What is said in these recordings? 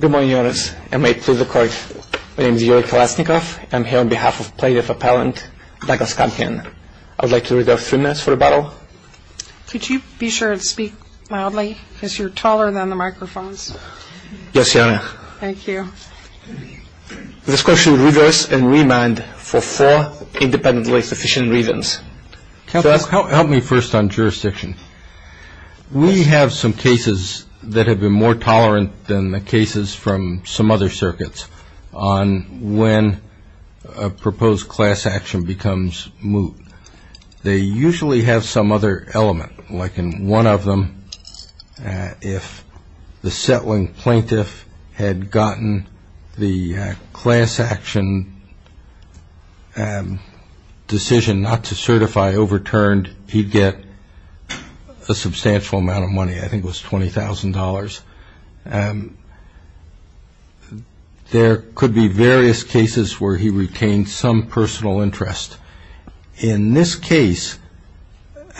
Good morning, Your Honors. I'm here on behalf of plaintiff appellant Douglas Campion. I would like to reserve three minutes for the battle. Could you be sure and speak mildly because you're taller than the microphones? Yes, Your Honor. Thank you. This court should reverse and remand for four independently sufficient reasons. Help me first on jurisdiction. We have some cases that have been more tolerant than the cases from some other circuits on when a proposed class action becomes moot. They usually have some other element. Like in one of them, if the settling plaintiff had gotten the class action decision not to certify overturned, he'd get a substantial amount of money. I think it was $20,000. There could be various cases where he retained some personal interest. In this case,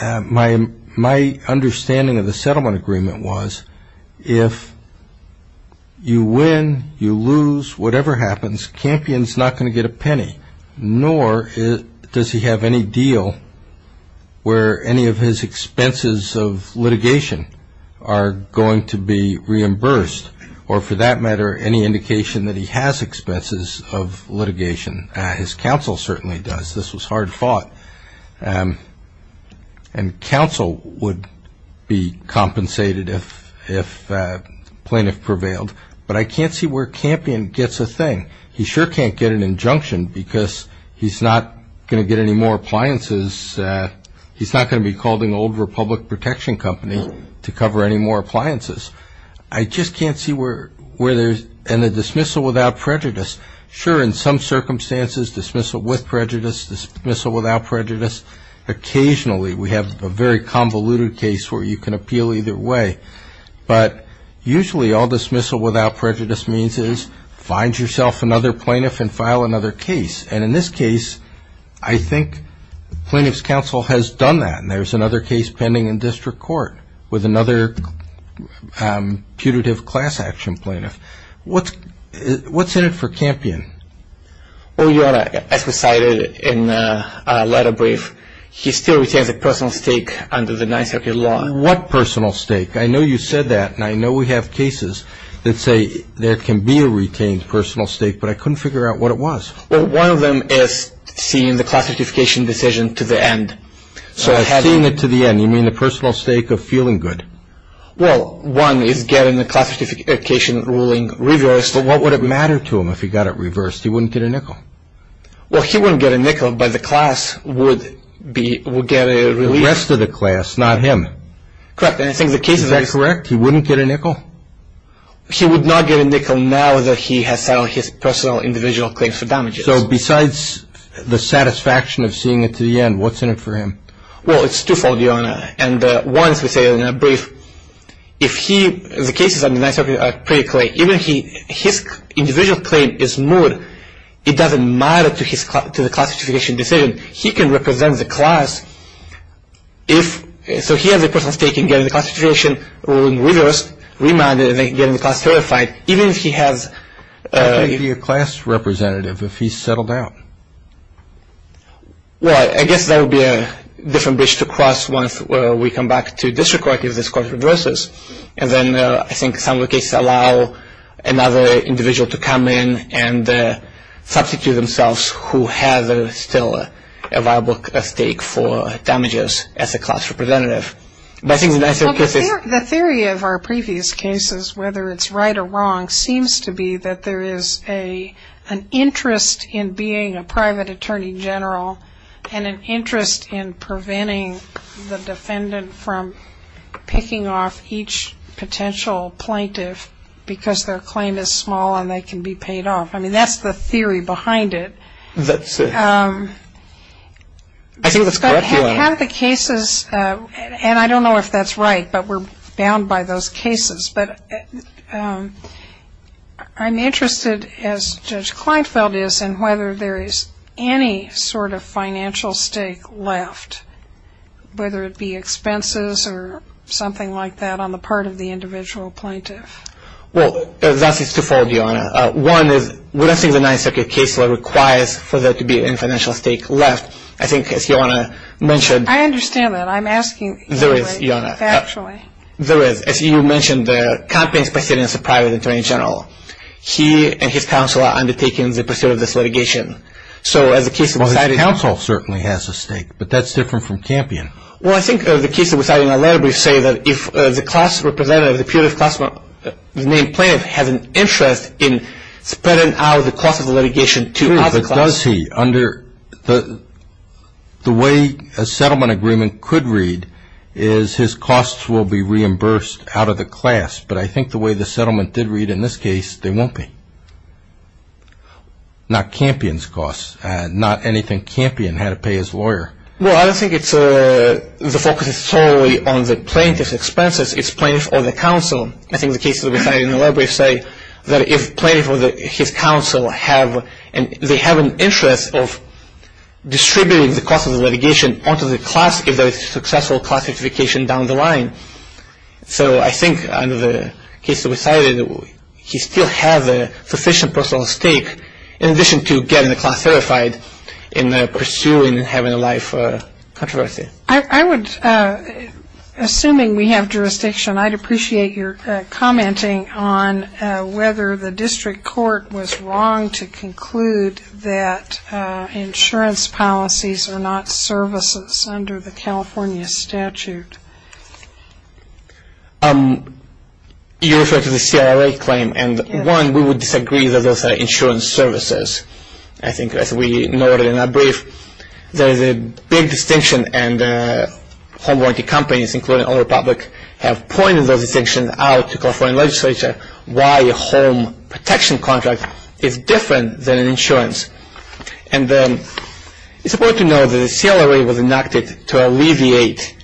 my understanding of the settlement agreement was if you win, you lose, whatever happens, Campion's not going to get a penny, nor does he have any deal where any of his expenses of litigation are going to be reimbursed, or for that matter, any indication that he has expenses of litigation. His counsel certainly does. This was hard fought. And counsel would be compensated if the plaintiff prevailed. But I can't see where Campion gets a thing. He sure can't get an injunction because he's not going to get any more appliances. He's not going to be calling the old Republic Protection Company to cover any more appliances. I just can't see where there's any dismissal without prejudice. Sure, in some circumstances, dismissal with prejudice, dismissal without prejudice. Occasionally, we have a very convoluted case where you can appeal either way. But usually all dismissal without prejudice means is find yourself another plaintiff and file another case. And in this case, I think plaintiff's counsel has done that, and there's another case pending in district court with another putative class action plaintiff. What's in it for Campion? As we cited in the letter brief, he still retains a personal stake under the Ninth Circuit Law. What personal stake? I know you said that, and I know we have cases that say there can be a retained personal stake, but I couldn't figure out what it was. Well, one of them is seeing the class certification decision to the end. Seeing it to the end, you mean the personal stake of feeling good? Well, one is getting the class certification ruling reversed. But what would it matter to him if he got it reversed? He wouldn't get a nickel. Well, he wouldn't get a nickel, but the class would get a relief. The rest of the class, not him. Correct. Is that correct? He wouldn't get a nickel? He would not get a nickel now that he has settled his personal individual claims for damages. So besides the satisfaction of seeing it to the end, what's in it for him? Well, it's twofold, Your Honor. And once we say it in a brief, if he, the cases under the Ninth Circuit are pretty clear, even if his individual claim is moot, it doesn't matter to the class certification decision. He can represent the class if, so he has a personal stake in getting the class certification ruling reversed, remanded, and then getting the class certified, even if he has... He can be a class representative if he's settled out. Well, I guess that would be a different bridge to cross once we come back to district court, if this court reverses. And then I think some of the cases allow another individual to come in and substitute themselves who has still a viable stake for damages as a class representative. But I think the nicer case is... The theory of our previous cases, whether it's right or wrong, seems to be that there is an interest in being a private attorney general and an interest in preventing the defendant from picking off each potential plaintiff because their claim is small and they can be paid off. I mean, that's the theory behind it. I think that's correct, Your Honor. We have the cases, and I don't know if that's right, but we're bound by those cases. But I'm interested, as Judge Kleinfeld is, in whether there is any sort of financial stake left, whether it be expenses or something like that on the part of the individual plaintiff. Well, that's twofold, Your Honor. One is, we don't think the Ninth Circuit case law requires for there to be any financial stake left. I think, as Your Honor mentioned... I understand that. I'm asking you factually. There is, Your Honor. There is. As you mentioned there, Campion is presiding as a private attorney general. He and his counsel are undertaking the pursuit of this litigation. So as a case of deciding... Well, his counsel certainly has a stake, but that's different from Campion. Well, I think as a case of deciding on a letter brief, say that if the class representative of the punitive class, the main plaintiff, has an interest in spreading out the cost of the litigation to other classes... The way a settlement agreement could read is his costs will be reimbursed out of the class. But I think the way the settlement did read in this case, they won't be. Not Campion's costs. Not anything Campion had to pay his lawyer. Well, I don't think the focus is solely on the plaintiff's expenses. It's plaintiff or the counsel. I think the case that we find in the letter brief say that if plaintiff or his counsel have... They're contributing the cost of the litigation onto the class if there is successful class certification down the line. So I think under the case that we cited, he still has a sufficient personal stake in addition to getting the class verified in pursuing and having a life controversy. I would... Assuming we have jurisdiction, I'd appreciate your commenting on whether the district court was wrong to conclude that insurance policies are not services under the California statute. You referred to the CRLA claim, and one, we would disagree that those are insurance services. I think as we noted in our brief, there is a big distinction, and home warranty companies including All Republic have pointed those distinctions out to California legislature why a home protection contract is different than an insurance. And it's important to note that the CLRA was enacted to alleviate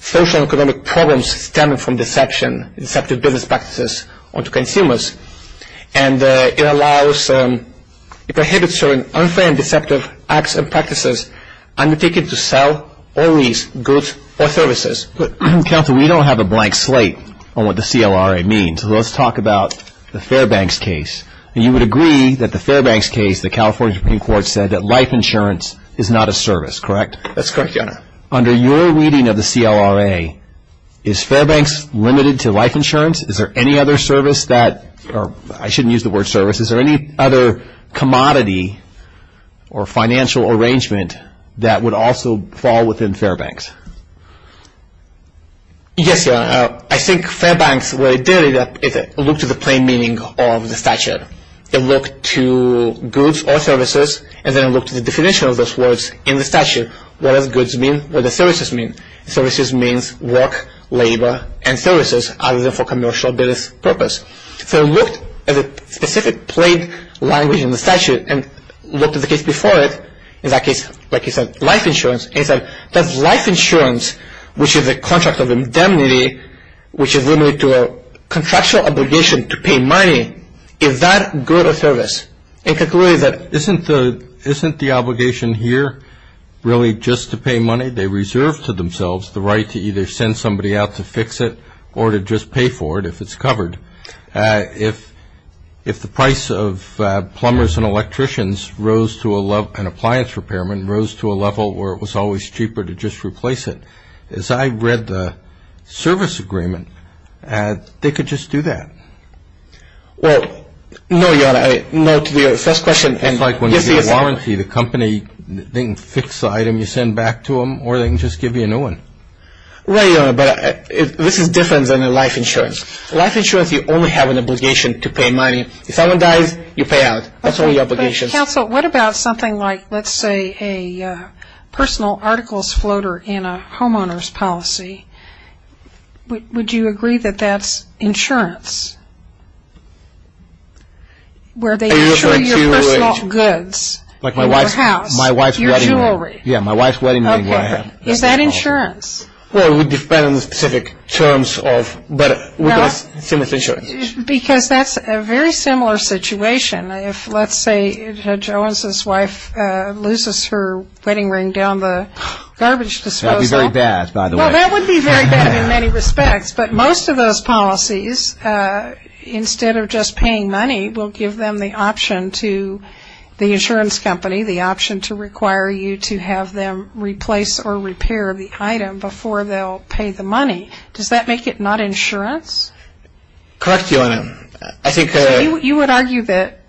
social and economic problems stemming from deception, deceptive business practices onto consumers. And it allows... It prohibits certain unfair and deceptive acts and practices undertaken to sell or lease goods or services. Counsel, we don't have a blank slate on what the CLRA means, so let's talk about the Fairbanks case. You would agree that the Fairbanks case, the California Supreme Court said that life insurance is not a service, correct? That's correct, Your Honor. Under your reading of the CLRA, is Fairbanks limited to life insurance? Is there any other service that... I shouldn't use the word service. Is there any other commodity or financial arrangement that would also fall within Fairbanks? Yes, Your Honor. I think Fairbanks, what it did is it looked at the plain meaning of the statute. It looked to goods or services, and then it looked at the definition of those words in the statute. What does goods mean? What do services mean? Services means work, labor, and services other than for commercial business purpose. So it looked at the specific plain language in the statute and looked at the case before it. In that case, like you said, life insurance. It said that life insurance, which is a contract of indemnity, which is limited to a contractual obligation to pay money, is that good or service? It concluded that... Isn't the obligation here really just to pay money? They reserve to themselves the right to either send somebody out to fix it or to just pay for it if it's covered. If the price of plumbers and electricians rose to a level... an appliance repairman rose to a level where it was always cheaper to just replace it, as I read the service agreement, they could just do that. Well, no, Your Honor. No, to the first question... It's like when you get a warranty, the company, they can fix the item you send back to them, or they can just give you a new one. Right, Your Honor, but this is different than a life insurance. Life insurance, you only have an obligation to pay money. If someone dies, you pay out. That's only your obligation. But, counsel, what about something like, let's say, a personal articles floater in a homeowner's policy? Would you agree that that's insurance? Where they insure your personal goods in your house, your jewelry. My wife's wedding ring. Yeah, my wife's wedding ring. Okay. Is that insurance? Well, it would depend on the specific terms of... Well, because that's a very similar situation. If, let's say, Judge Owens' wife loses her wedding ring down the garbage disposal... That would be very bad, by the way. Well, that would be very bad in many respects, but most of those policies, instead of just paying money, will give them the option to the insurance company, the option to require you to have them replace or repair the item before they'll pay the money. Does that make it not insurance? Correct, Your Honor. I think... You would argue that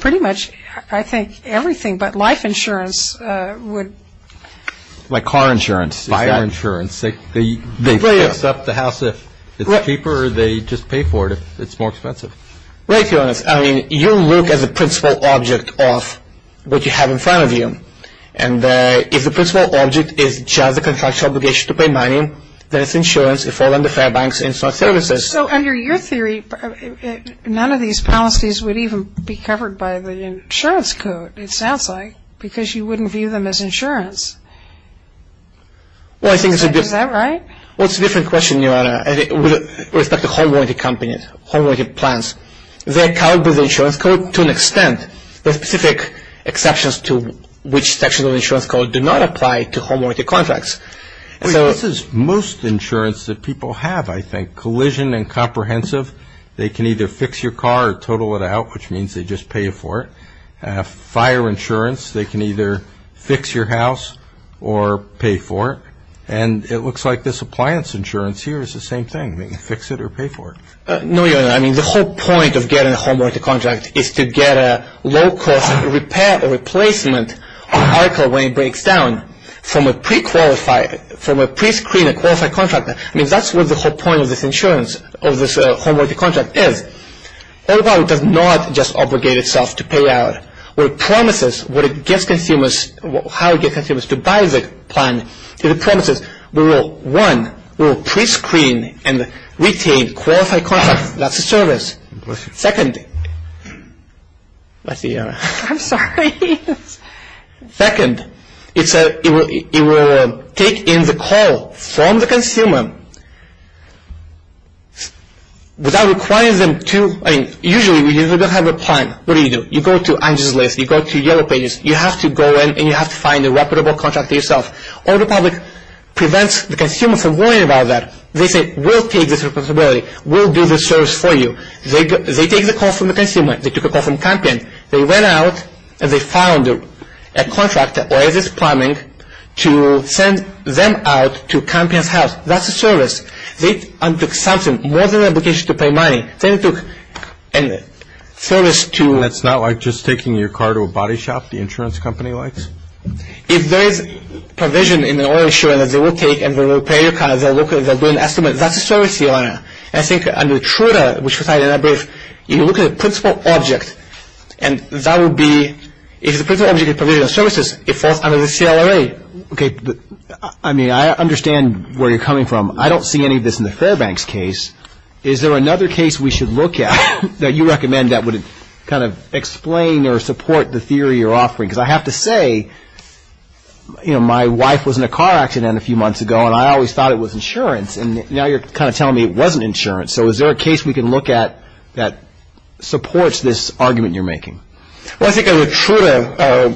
pretty much, I think, everything but life insurance would... Like car insurance. Fire insurance. They fix up the house if it's cheaper, or they just pay for it if it's more expensive. Right, Your Honor. I mean, you look at the principal object of what you have in front of you, and if the principal object is just a contractual obligation to pay money, then it's insurance. If all under Fairbanks, it's not services. So under your theory, none of these policies would even be covered by the insurance code, it sounds like, because you wouldn't view them as insurance. Well, I think... Is that right? Well, it's a different question, Your Honor, with respect to home-oriented companies, home-oriented plans. They're covered by the insurance code to an extent. There are specific exceptions to which sections of the insurance code do not apply to home-oriented contracts. This is most insurance that people have, I think. Collision and comprehensive, they can either fix your car or total it out, which means they just pay for it. Fire insurance, they can either fix your house or pay for it. And it looks like this appliance insurance here is the same thing. They can fix it or pay for it. No, Your Honor, I mean, the whole point of getting a home-oriented contract is to get a low-cost repair or replacement article when it breaks down from a pre-qualified, from a pre-screened qualified contractor. I mean, that's what the whole point of this insurance, of this home-oriented contract is. Overall, it does not just obligate itself to pay out. What it promises, what it gets consumers, how it gets consumers to buy the plan, it promises we will, one, we will pre-screen and retain qualified contractors. That's a service. Second, let's see, Your Honor. I'm sorry. Second, it will take in the call from the consumer without requiring them to, I mean, usually we don't have a plan. What do you do? You go to Angel's List. You go to Yellow Pages. You have to go in and you have to find a reputable contract for yourself. AutoPublic prevents the consumer from worrying about that. They say, we'll take this responsibility. We'll do this service for you. They take the call from the consumer. They took a call from Campion. They went out and they found a contract, or is this plumbing, to send them out to Campion's house. That's a service. They undertook something more than an obligation to pay money. They undertook a service to... That's not like just taking your car to a body shop the insurance company likes? If there is provision in the oil insurance, they will take and they will repair your car. They'll do an estimate. That's a service, Your Honor. I think under Truda, which was cited in that brief, you look at the principal object and that would be if the principal object is provision of services, it falls under the CLRA. Okay. I mean, I understand where you're coming from. I don't see any of this in the Fairbanks case. Is there another case we should look at that you recommend that would kind of explain or support the theory you're offering? Because I have to say, you know, my wife was in a car accident a few months ago and I always thought it was insurance. And now you're kind of telling me it wasn't insurance. So is there a case we can look at that supports this argument you're making? Well, I think under Truda,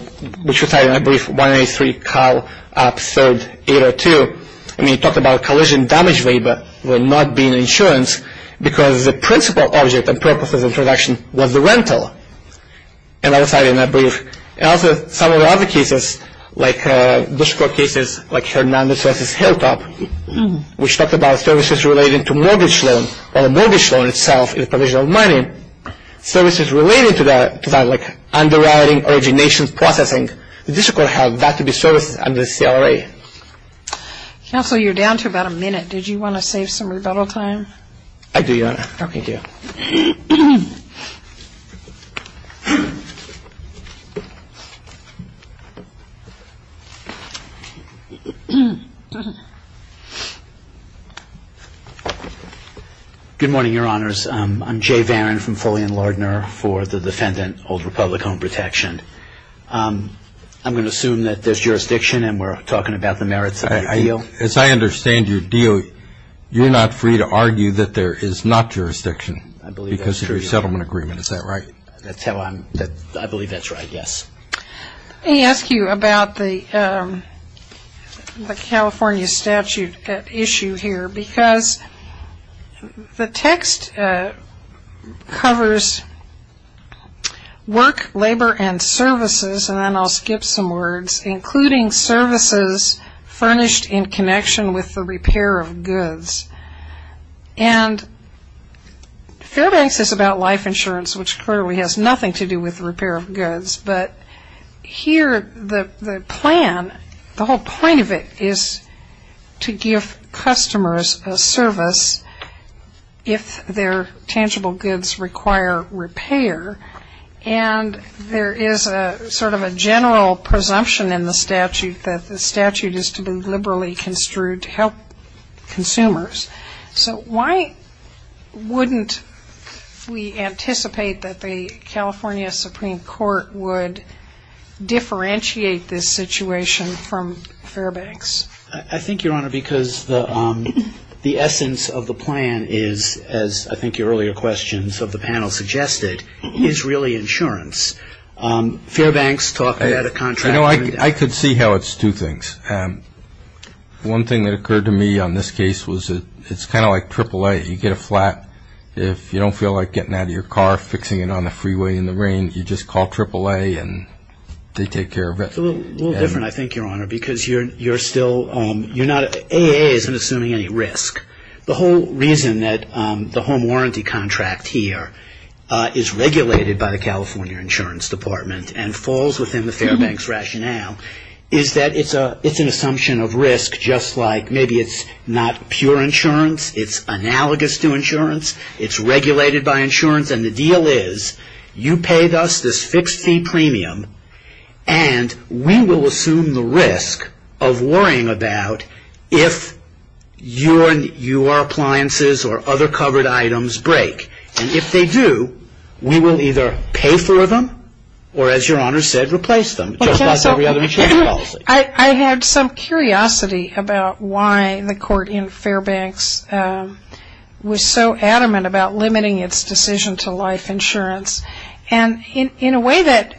which was cited in that brief, 183, Kyle, Up, 3rd, 802, I mean, you talked about collision damage waiver will not be an insurance because the principal object of purposes of production was the rental. And that was cited in that brief. And also some of the other cases, like district court cases, like Hernandez versus Hilltop, which talked about services related to mortgage loan, where the mortgage loan itself is provision of money, services related to that, like underwriting, origination, processing, the district court held that to be services under the CLRA. Counsel, you're down to about a minute. Did you want to save some rebuttal time? I do, Your Honor. Okay. Thank you. Good morning, Your Honors. I'm Jay Varon from Foley and Lardner for the defendant, Old Republic Home Protection. I'm going to assume that there's jurisdiction and we're talking about the merits of the deal. As I understand your deal, you're not free to argue that there is not jurisdiction. I believe that's true. Because of your settlement agreement. Is that right? I believe that's right, yes. Let me ask you about the California statute issue here. Because the text covers work, labor, and services, and then I'll skip some words, including services furnished in connection with the repair of goods. And Fairbanks is about life insurance, which clearly has nothing to do with repair of goods. But here the plan, the whole point of it is to give customers a service if their tangible goods require repair. And there is sort of a general presumption in the statute that the statute is to be liberally construed to help consumers. So why wouldn't we anticipate that the California Supreme Court would differentiate this situation from Fairbanks? I think, Your Honor, because the essence of the plan is, as I think your earlier questions of the panel suggested, is really insurance. Fairbanks talked about a contract. You know, I could see how it's two things. One thing that occurred to me on this case was it's kind of like AAA. You get a flat. If you don't feel like getting out of your car, fixing it on the freeway in the rain, you just call AAA and they take care of it. It's a little different, I think, Your Honor, because you're still, you're not, AAA isn't assuming any risk. The whole reason that the home warranty contract here is regulated by the California Insurance Department and falls within the Fairbanks rationale is that it's an assumption of risk, just like maybe it's not pure insurance. It's analogous to insurance. It's regulated by insurance, and the deal is you pay us this fixed fee premium and we will assume the risk of worrying about if your appliances or other covered items break. And if they do, we will either pay for them or, as Your Honor said, replace them, just like every other insurance policy. I had some curiosity about why the court in Fairbanks was so adamant about limiting its decision to life insurance. And in a way that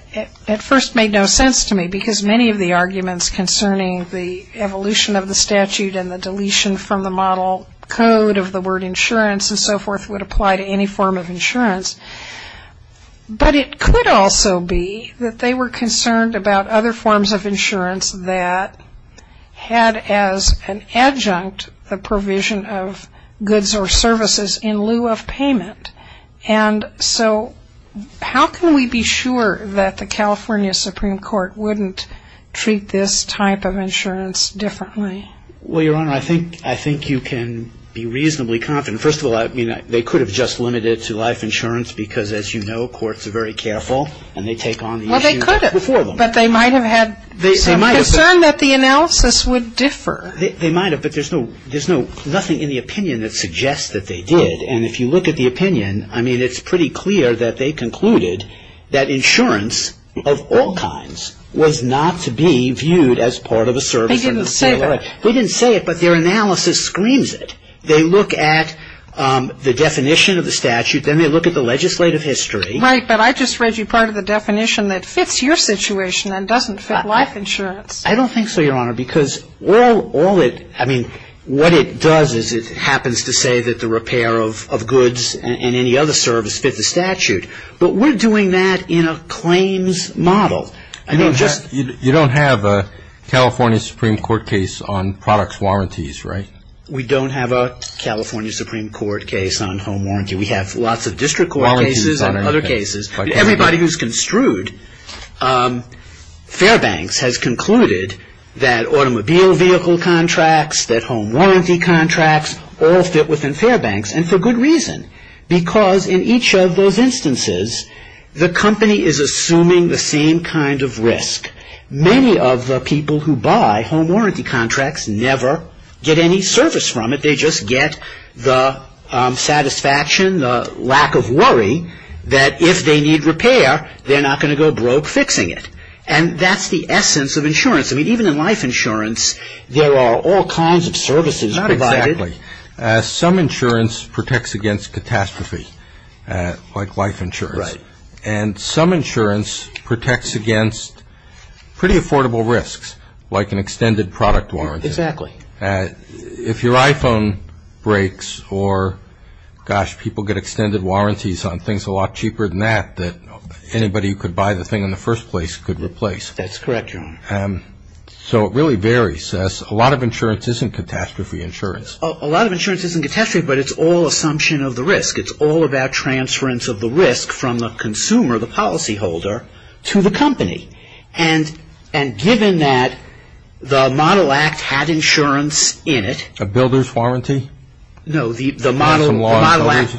at first made no sense to me, because many of the arguments concerning the evolution of the statute and the deletion from the model code of the word insurance and so forth would apply to any form of insurance. But it could also be that they were concerned about other forms of insurance that had as an adjunct the provision of goods or services in lieu of payment. And so how can we be sure that the California Supreme Court wouldn't treat this type of insurance differently? Well, Your Honor, I think you can be reasonably confident. First of all, they could have just limited it to life insurance because, as you know, courts are very careful and they take on the issue before them. Well, they could have, but they might have had some concern that the analysis would differ. They might have, but there's nothing in the opinion that suggests that they did. And if you look at the opinion, I mean, it's pretty clear that they concluded that insurance of all kinds was not to be viewed as part of a service. They didn't say that. We didn't say it, but their analysis screams it. They look at the definition of the statute, then they look at the legislative history. Right, but I just read you part of the definition that fits your situation and doesn't fit life insurance. I don't think so, Your Honor, because all it – I don't say that the repair of goods and any other service fit the statute, but we're doing that in a claims model. You don't have a California Supreme Court case on product warranties, right? We don't have a California Supreme Court case on home warranty. We have lots of district court cases and other cases. Everybody who's construed Fairbanks has concluded that automobile vehicle contracts, that home warranty contracts all fit within Fairbanks, and for good reason. Because in each of those instances, the company is assuming the same kind of risk. Many of the people who buy home warranty contracts never get any service from it. They just get the satisfaction, the lack of worry that if they need repair, they're not going to go broke fixing it. And that's the essence of insurance. I mean, even in life insurance, there are all kinds of services provided. Not exactly. Some insurance protects against catastrophe, like life insurance. Right. And some insurance protects against pretty affordable risks, like an extended product warranty. Exactly. If your iPhone breaks or, gosh, people get extended warranties on things a lot cheaper than that, that anybody who could buy the thing in the first place could replace. That's correct, Your Honor. So it really varies. A lot of insurance isn't catastrophe insurance. A lot of insurance isn't catastrophe, but it's all assumption of the risk. It's all about transference of the risk from the consumer, the policyholder, to the company. And given that the Model Act had insurance in it. A builder's warranty? No, the Model Act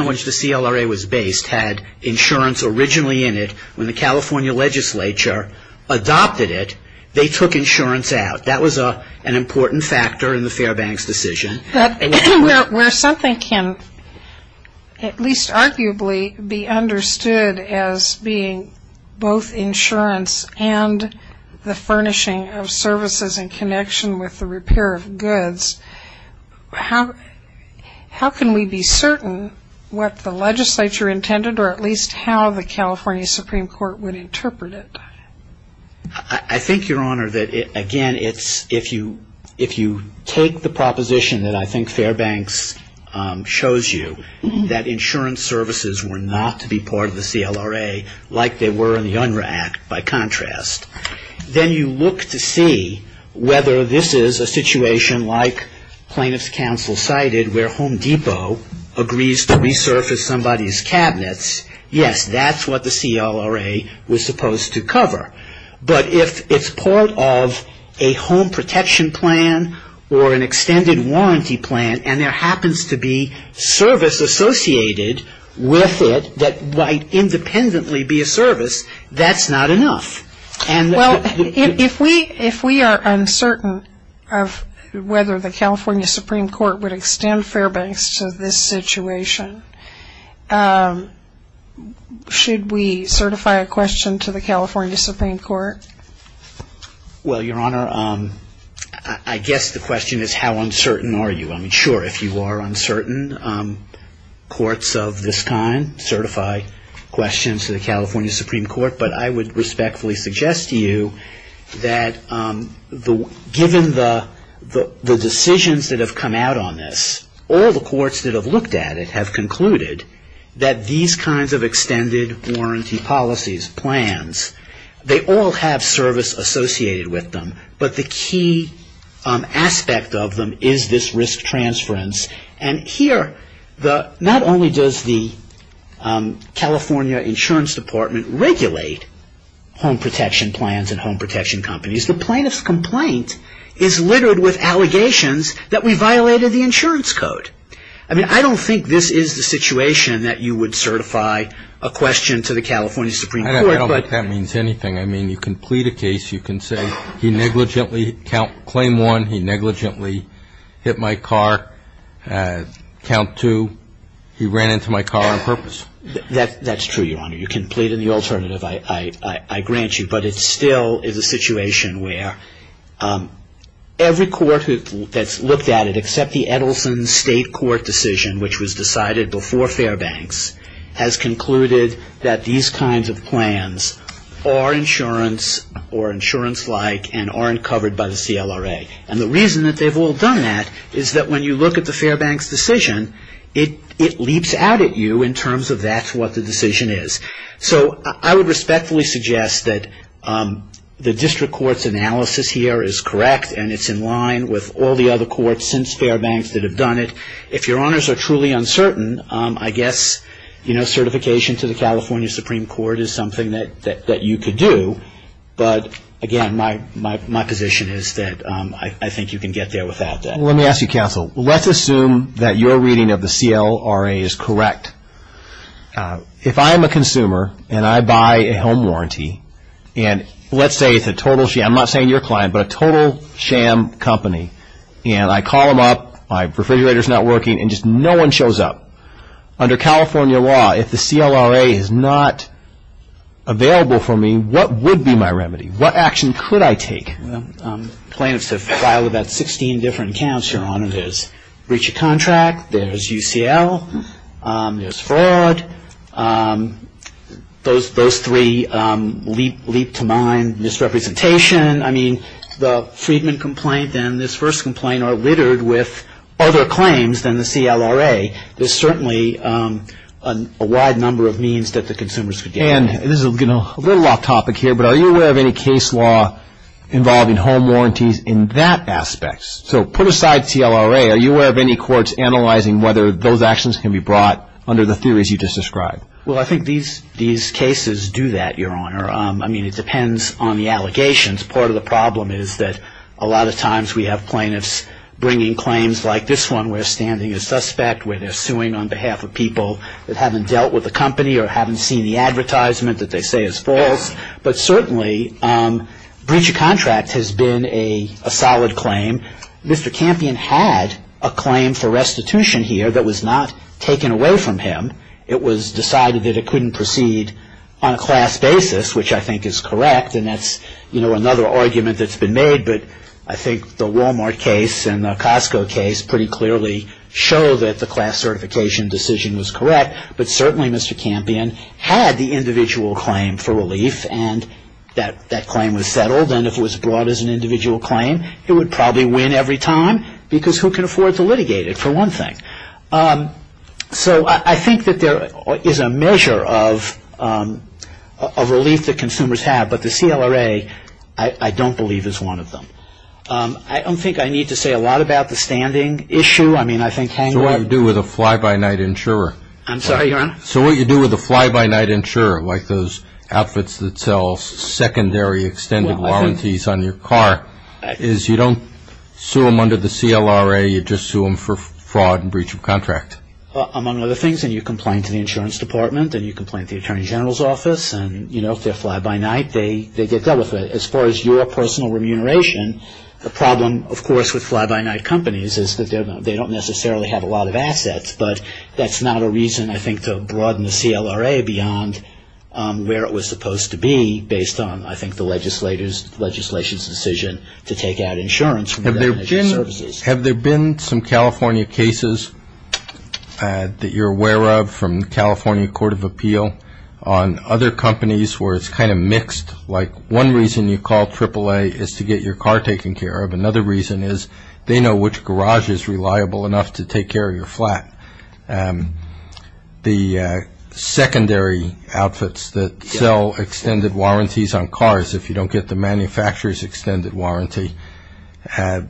on which the CLRA was based had insurance originally in it when the California legislature adopted it, they took insurance out. That was an important factor in the Fairbanks decision. Where something can at least arguably be understood as being both insurance and the furnishing of services in connection with the repair of goods, how can we be certain what the legislature intended or at least how the California Supreme Court would interpret it? I think, Your Honor, that, again, if you take the proposition that I think Fairbanks shows you, that insurance services were not to be part of the CLRA like they were in the UNRRA Act, by contrast, then you look to see whether this is a situation like plaintiff's counsel cited where Home Depot agrees to resurface somebody's cabinets. Yes, that's what the CLRA was supposed to cover. But if it's part of a home protection plan or an extended warranty plan and there happens to be service associated with it that might independently be a service, that's not enough. Well, if we are uncertain of whether the California Supreme Court would extend Fairbanks to this situation, should we certify a question to the California Supreme Court? Well, Your Honor, I guess the question is how uncertain are you. Sure, if you are uncertain, courts of this kind certify questions to the California Supreme Court. But I would respectfully suggest to you that given the decisions that have come out on this, all the courts that have looked at it have concluded that these kinds of extended warranty policies, plans, they all have service associated with them, but the key aspect of them is this risk transference. And here, not only does the California Insurance Department regulate home protection plans and home protection companies, the plaintiff's complaint is littered with allegations that we violated the insurance code. I mean, I don't think this is the situation that you would certify a question to the California Supreme Court. I don't think that means anything. I mean, you can plead a case, you can say he negligently, claim one, he negligently hit my car, count two, he ran into my car on purpose. That's true, Your Honor. You can plead in the alternative, I grant you. But it still is a situation where every court that's looked at it, except the Edelson State Court decision, which was decided before Fairbanks, has concluded that these kinds of plans are insurance or insurance-like and aren't covered by the CLRA. And the reason that they've all done that is that when you look at the Fairbanks decision, it leaps out at you in terms of that's what the decision is. So I would respectfully suggest that the district court's analysis here is correct and it's in line with all the other courts since Fairbanks that have done it. If Your Honors are truly uncertain, I guess certification to the California Supreme Court is something that you could do. But, again, my position is that I think you can get there without that. Let me ask you, Counsel. Let's assume that your reading of the CLRA is correct. If I'm a consumer and I buy a home warranty, and let's say it's a total sham. I'm not saying your client, but a total sham company. And I call them up, my refrigerator's not working, and just no one shows up. Under California law, if the CLRA is not available for me, what would be my remedy? What action could I take? Plaintiffs have filed about 16 different counts, Your Honor. There's breach of contract, there's UCL, there's fraud. Those three leap to mind, misrepresentation. I mean, the Friedman complaint and this first complaint are littered with other claims than the CLRA. There's certainly a wide number of means that the consumers could get. And this is a little off topic here, but are you aware of any case law involving home warranties in that aspect? So put aside CLRA, are you aware of any courts analyzing whether those actions can be brought under the theories you just described? Well, I think these cases do that, Your Honor. I mean, it depends on the allegations. Part of the problem is that a lot of times we have plaintiffs bringing claims like this one, where they're standing a suspect, where they're suing on behalf of people that haven't dealt with the company or haven't seen the advertisement that they say is false. But certainly, breach of contract has been a solid claim. Mr. Campion had a claim for restitution here that was not taken away from him. It was decided that it couldn't proceed on a class basis, which I think is correct, and that's another argument that's been made. But I think the Walmart case and the Costco case pretty clearly show that the class certification decision was correct. But certainly, Mr. Campion had the individual claim for relief, and that claim was settled. And if it was brought as an individual claim, it would probably win every time, because who can afford to litigate it, for one thing? So I think that there is a measure of relief that consumers have, but the CLRA I don't believe is one of them. I don't think I need to say a lot about the standing issue. I mean, I think hang on. So what you do with a fly-by-night insurer? I'm sorry, Your Honor? So what you do with a fly-by-night insurer, like those outfits that sell secondary extended warranties on your car, is you don't sue them under the CLRA. You just sue them for fraud and breach of contract. Among other things. And you complain to the insurance department, and you complain to the attorney general's office, and if they're fly-by-night, they get dealt with it. As far as your personal remuneration, the problem, of course, with fly-by-night companies is that they don't necessarily have a lot of assets. But that's not a reason, I think, to broaden the CLRA beyond where it was supposed to be, based on, I think, the legislation's decision to take out insurance. Jim, have there been some California cases that you're aware of from California Court of Appeal on other companies where it's kind of mixed? Like one reason you call AAA is to get your car taken care of. Another reason is they know which garage is reliable enough to take care of your flat. The secondary outfits that sell extended warranties on cars, if you don't get the manufacturer's extended warranty, the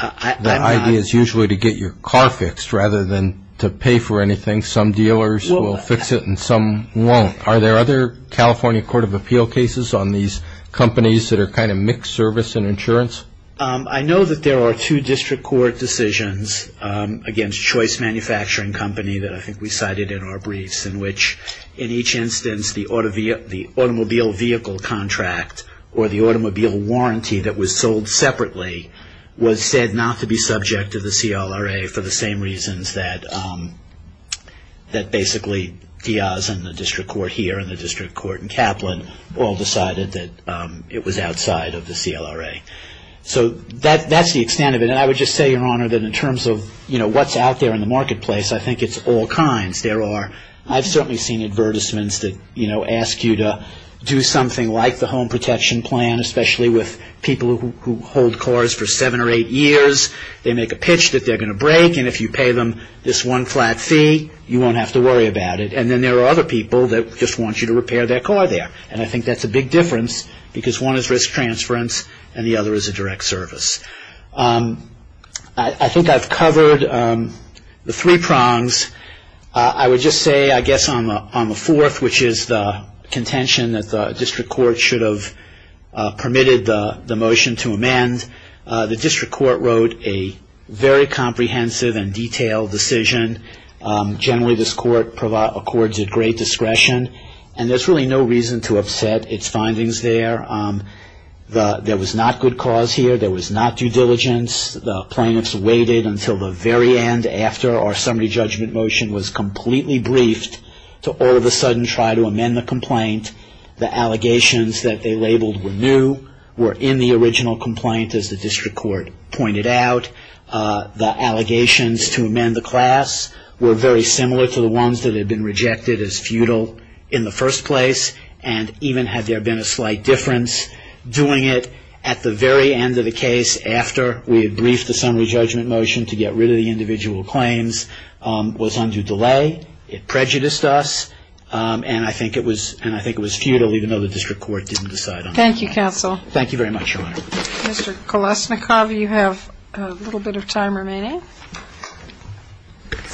idea is usually to get your car fixed rather than to pay for anything. Some dealers will fix it, and some won't. Are there other California Court of Appeal cases on these companies that are kind of mixed service and insurance? I know that there are two district court decisions against Choice Manufacturing Company that I think we cited in our briefs, in which, in each instance, the automobile vehicle contract or the automobile warranty that was sold separately was said not to be subject to the CLRA for the same reasons that basically Diaz and the district court here and the district court in Kaplan all decided that it was outside of the CLRA. So that's the extent of it. And I would just say, Your Honor, that in terms of what's out there in the marketplace, I think it's all kinds. I've certainly seen advertisements that ask you to do something like the home protection plan, especially with people who hold cars for seven or eight years. They make a pitch that they're going to break, and if you pay them this one flat fee, you won't have to worry about it. And then there are other people that just want you to repair their car there, and I think that's a big difference because one is risk transference and the other is a direct service. I think I've covered the three prongs. I would just say, I guess, on the fourth, which is the contention that the district court should have permitted the motion to amend, the district court wrote a very comprehensive and detailed decision. Generally, this court accords it great discretion, and there's really no reason to upset its findings there. There was not good cause here. There was not due diligence. The plaintiffs waited until the very end, after our summary judgment motion was completely briefed, to all of a sudden try to amend the complaint. The allegations that they labeled were new, were in the original complaint, as the district court pointed out. The allegations to amend the class were very similar to the ones that had been rejected as futile in the first place, and even had there been a slight difference, doing it at the very end of the case after we had briefed the summary judgment motion to get rid of the individual claims was under delay. It prejudiced us, and I think it was futile, even though the district court didn't decide on it. Thank you, counsel. Thank you very much, Your Honor. Mr. Kolasnikov, you have a little bit of time remaining.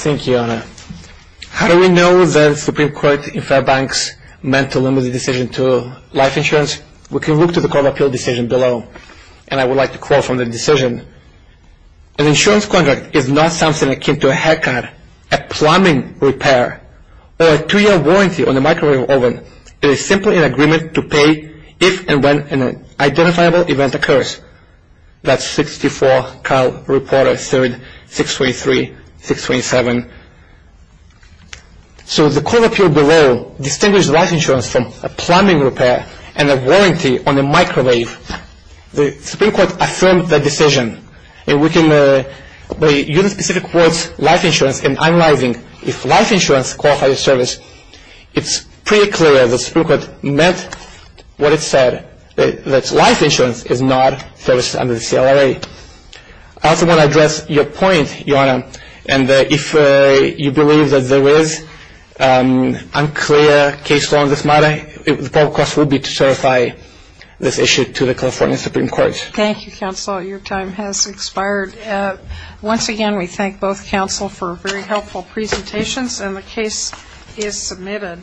Thank you, Your Honor. How do we know that the Supreme Court in Fairbanks meant to limit the decision to life insurance? We can look to the Court of Appeal decision below, and I would like to quote from the decision. An insurance contract is not something akin to a haircut, a plumbing repair, or a two-year warranty on a microwave oven. It is simply an agreement to pay if and when an identifiable event occurs. That's 64, Kyle Reporter, 3rd, 623, 627. So the Court of Appeal below distinguished life insurance from a plumbing repair and a warranty on a microwave. The Supreme Court affirmed that decision, and we can use specific words, life insurance, in analyzing if life insurance qualifies as service. It's pretty clear the Supreme Court meant what it said, that life insurance is not service under the CLRA. I also want to address your point, Your Honor, and if you believe that there is unclear case law on this matter, the proper course would be to certify this issue to the California Supreme Court. Thank you, counsel. Your time has expired. Once again, we thank both counsel for very helpful presentations, and the case is submitted.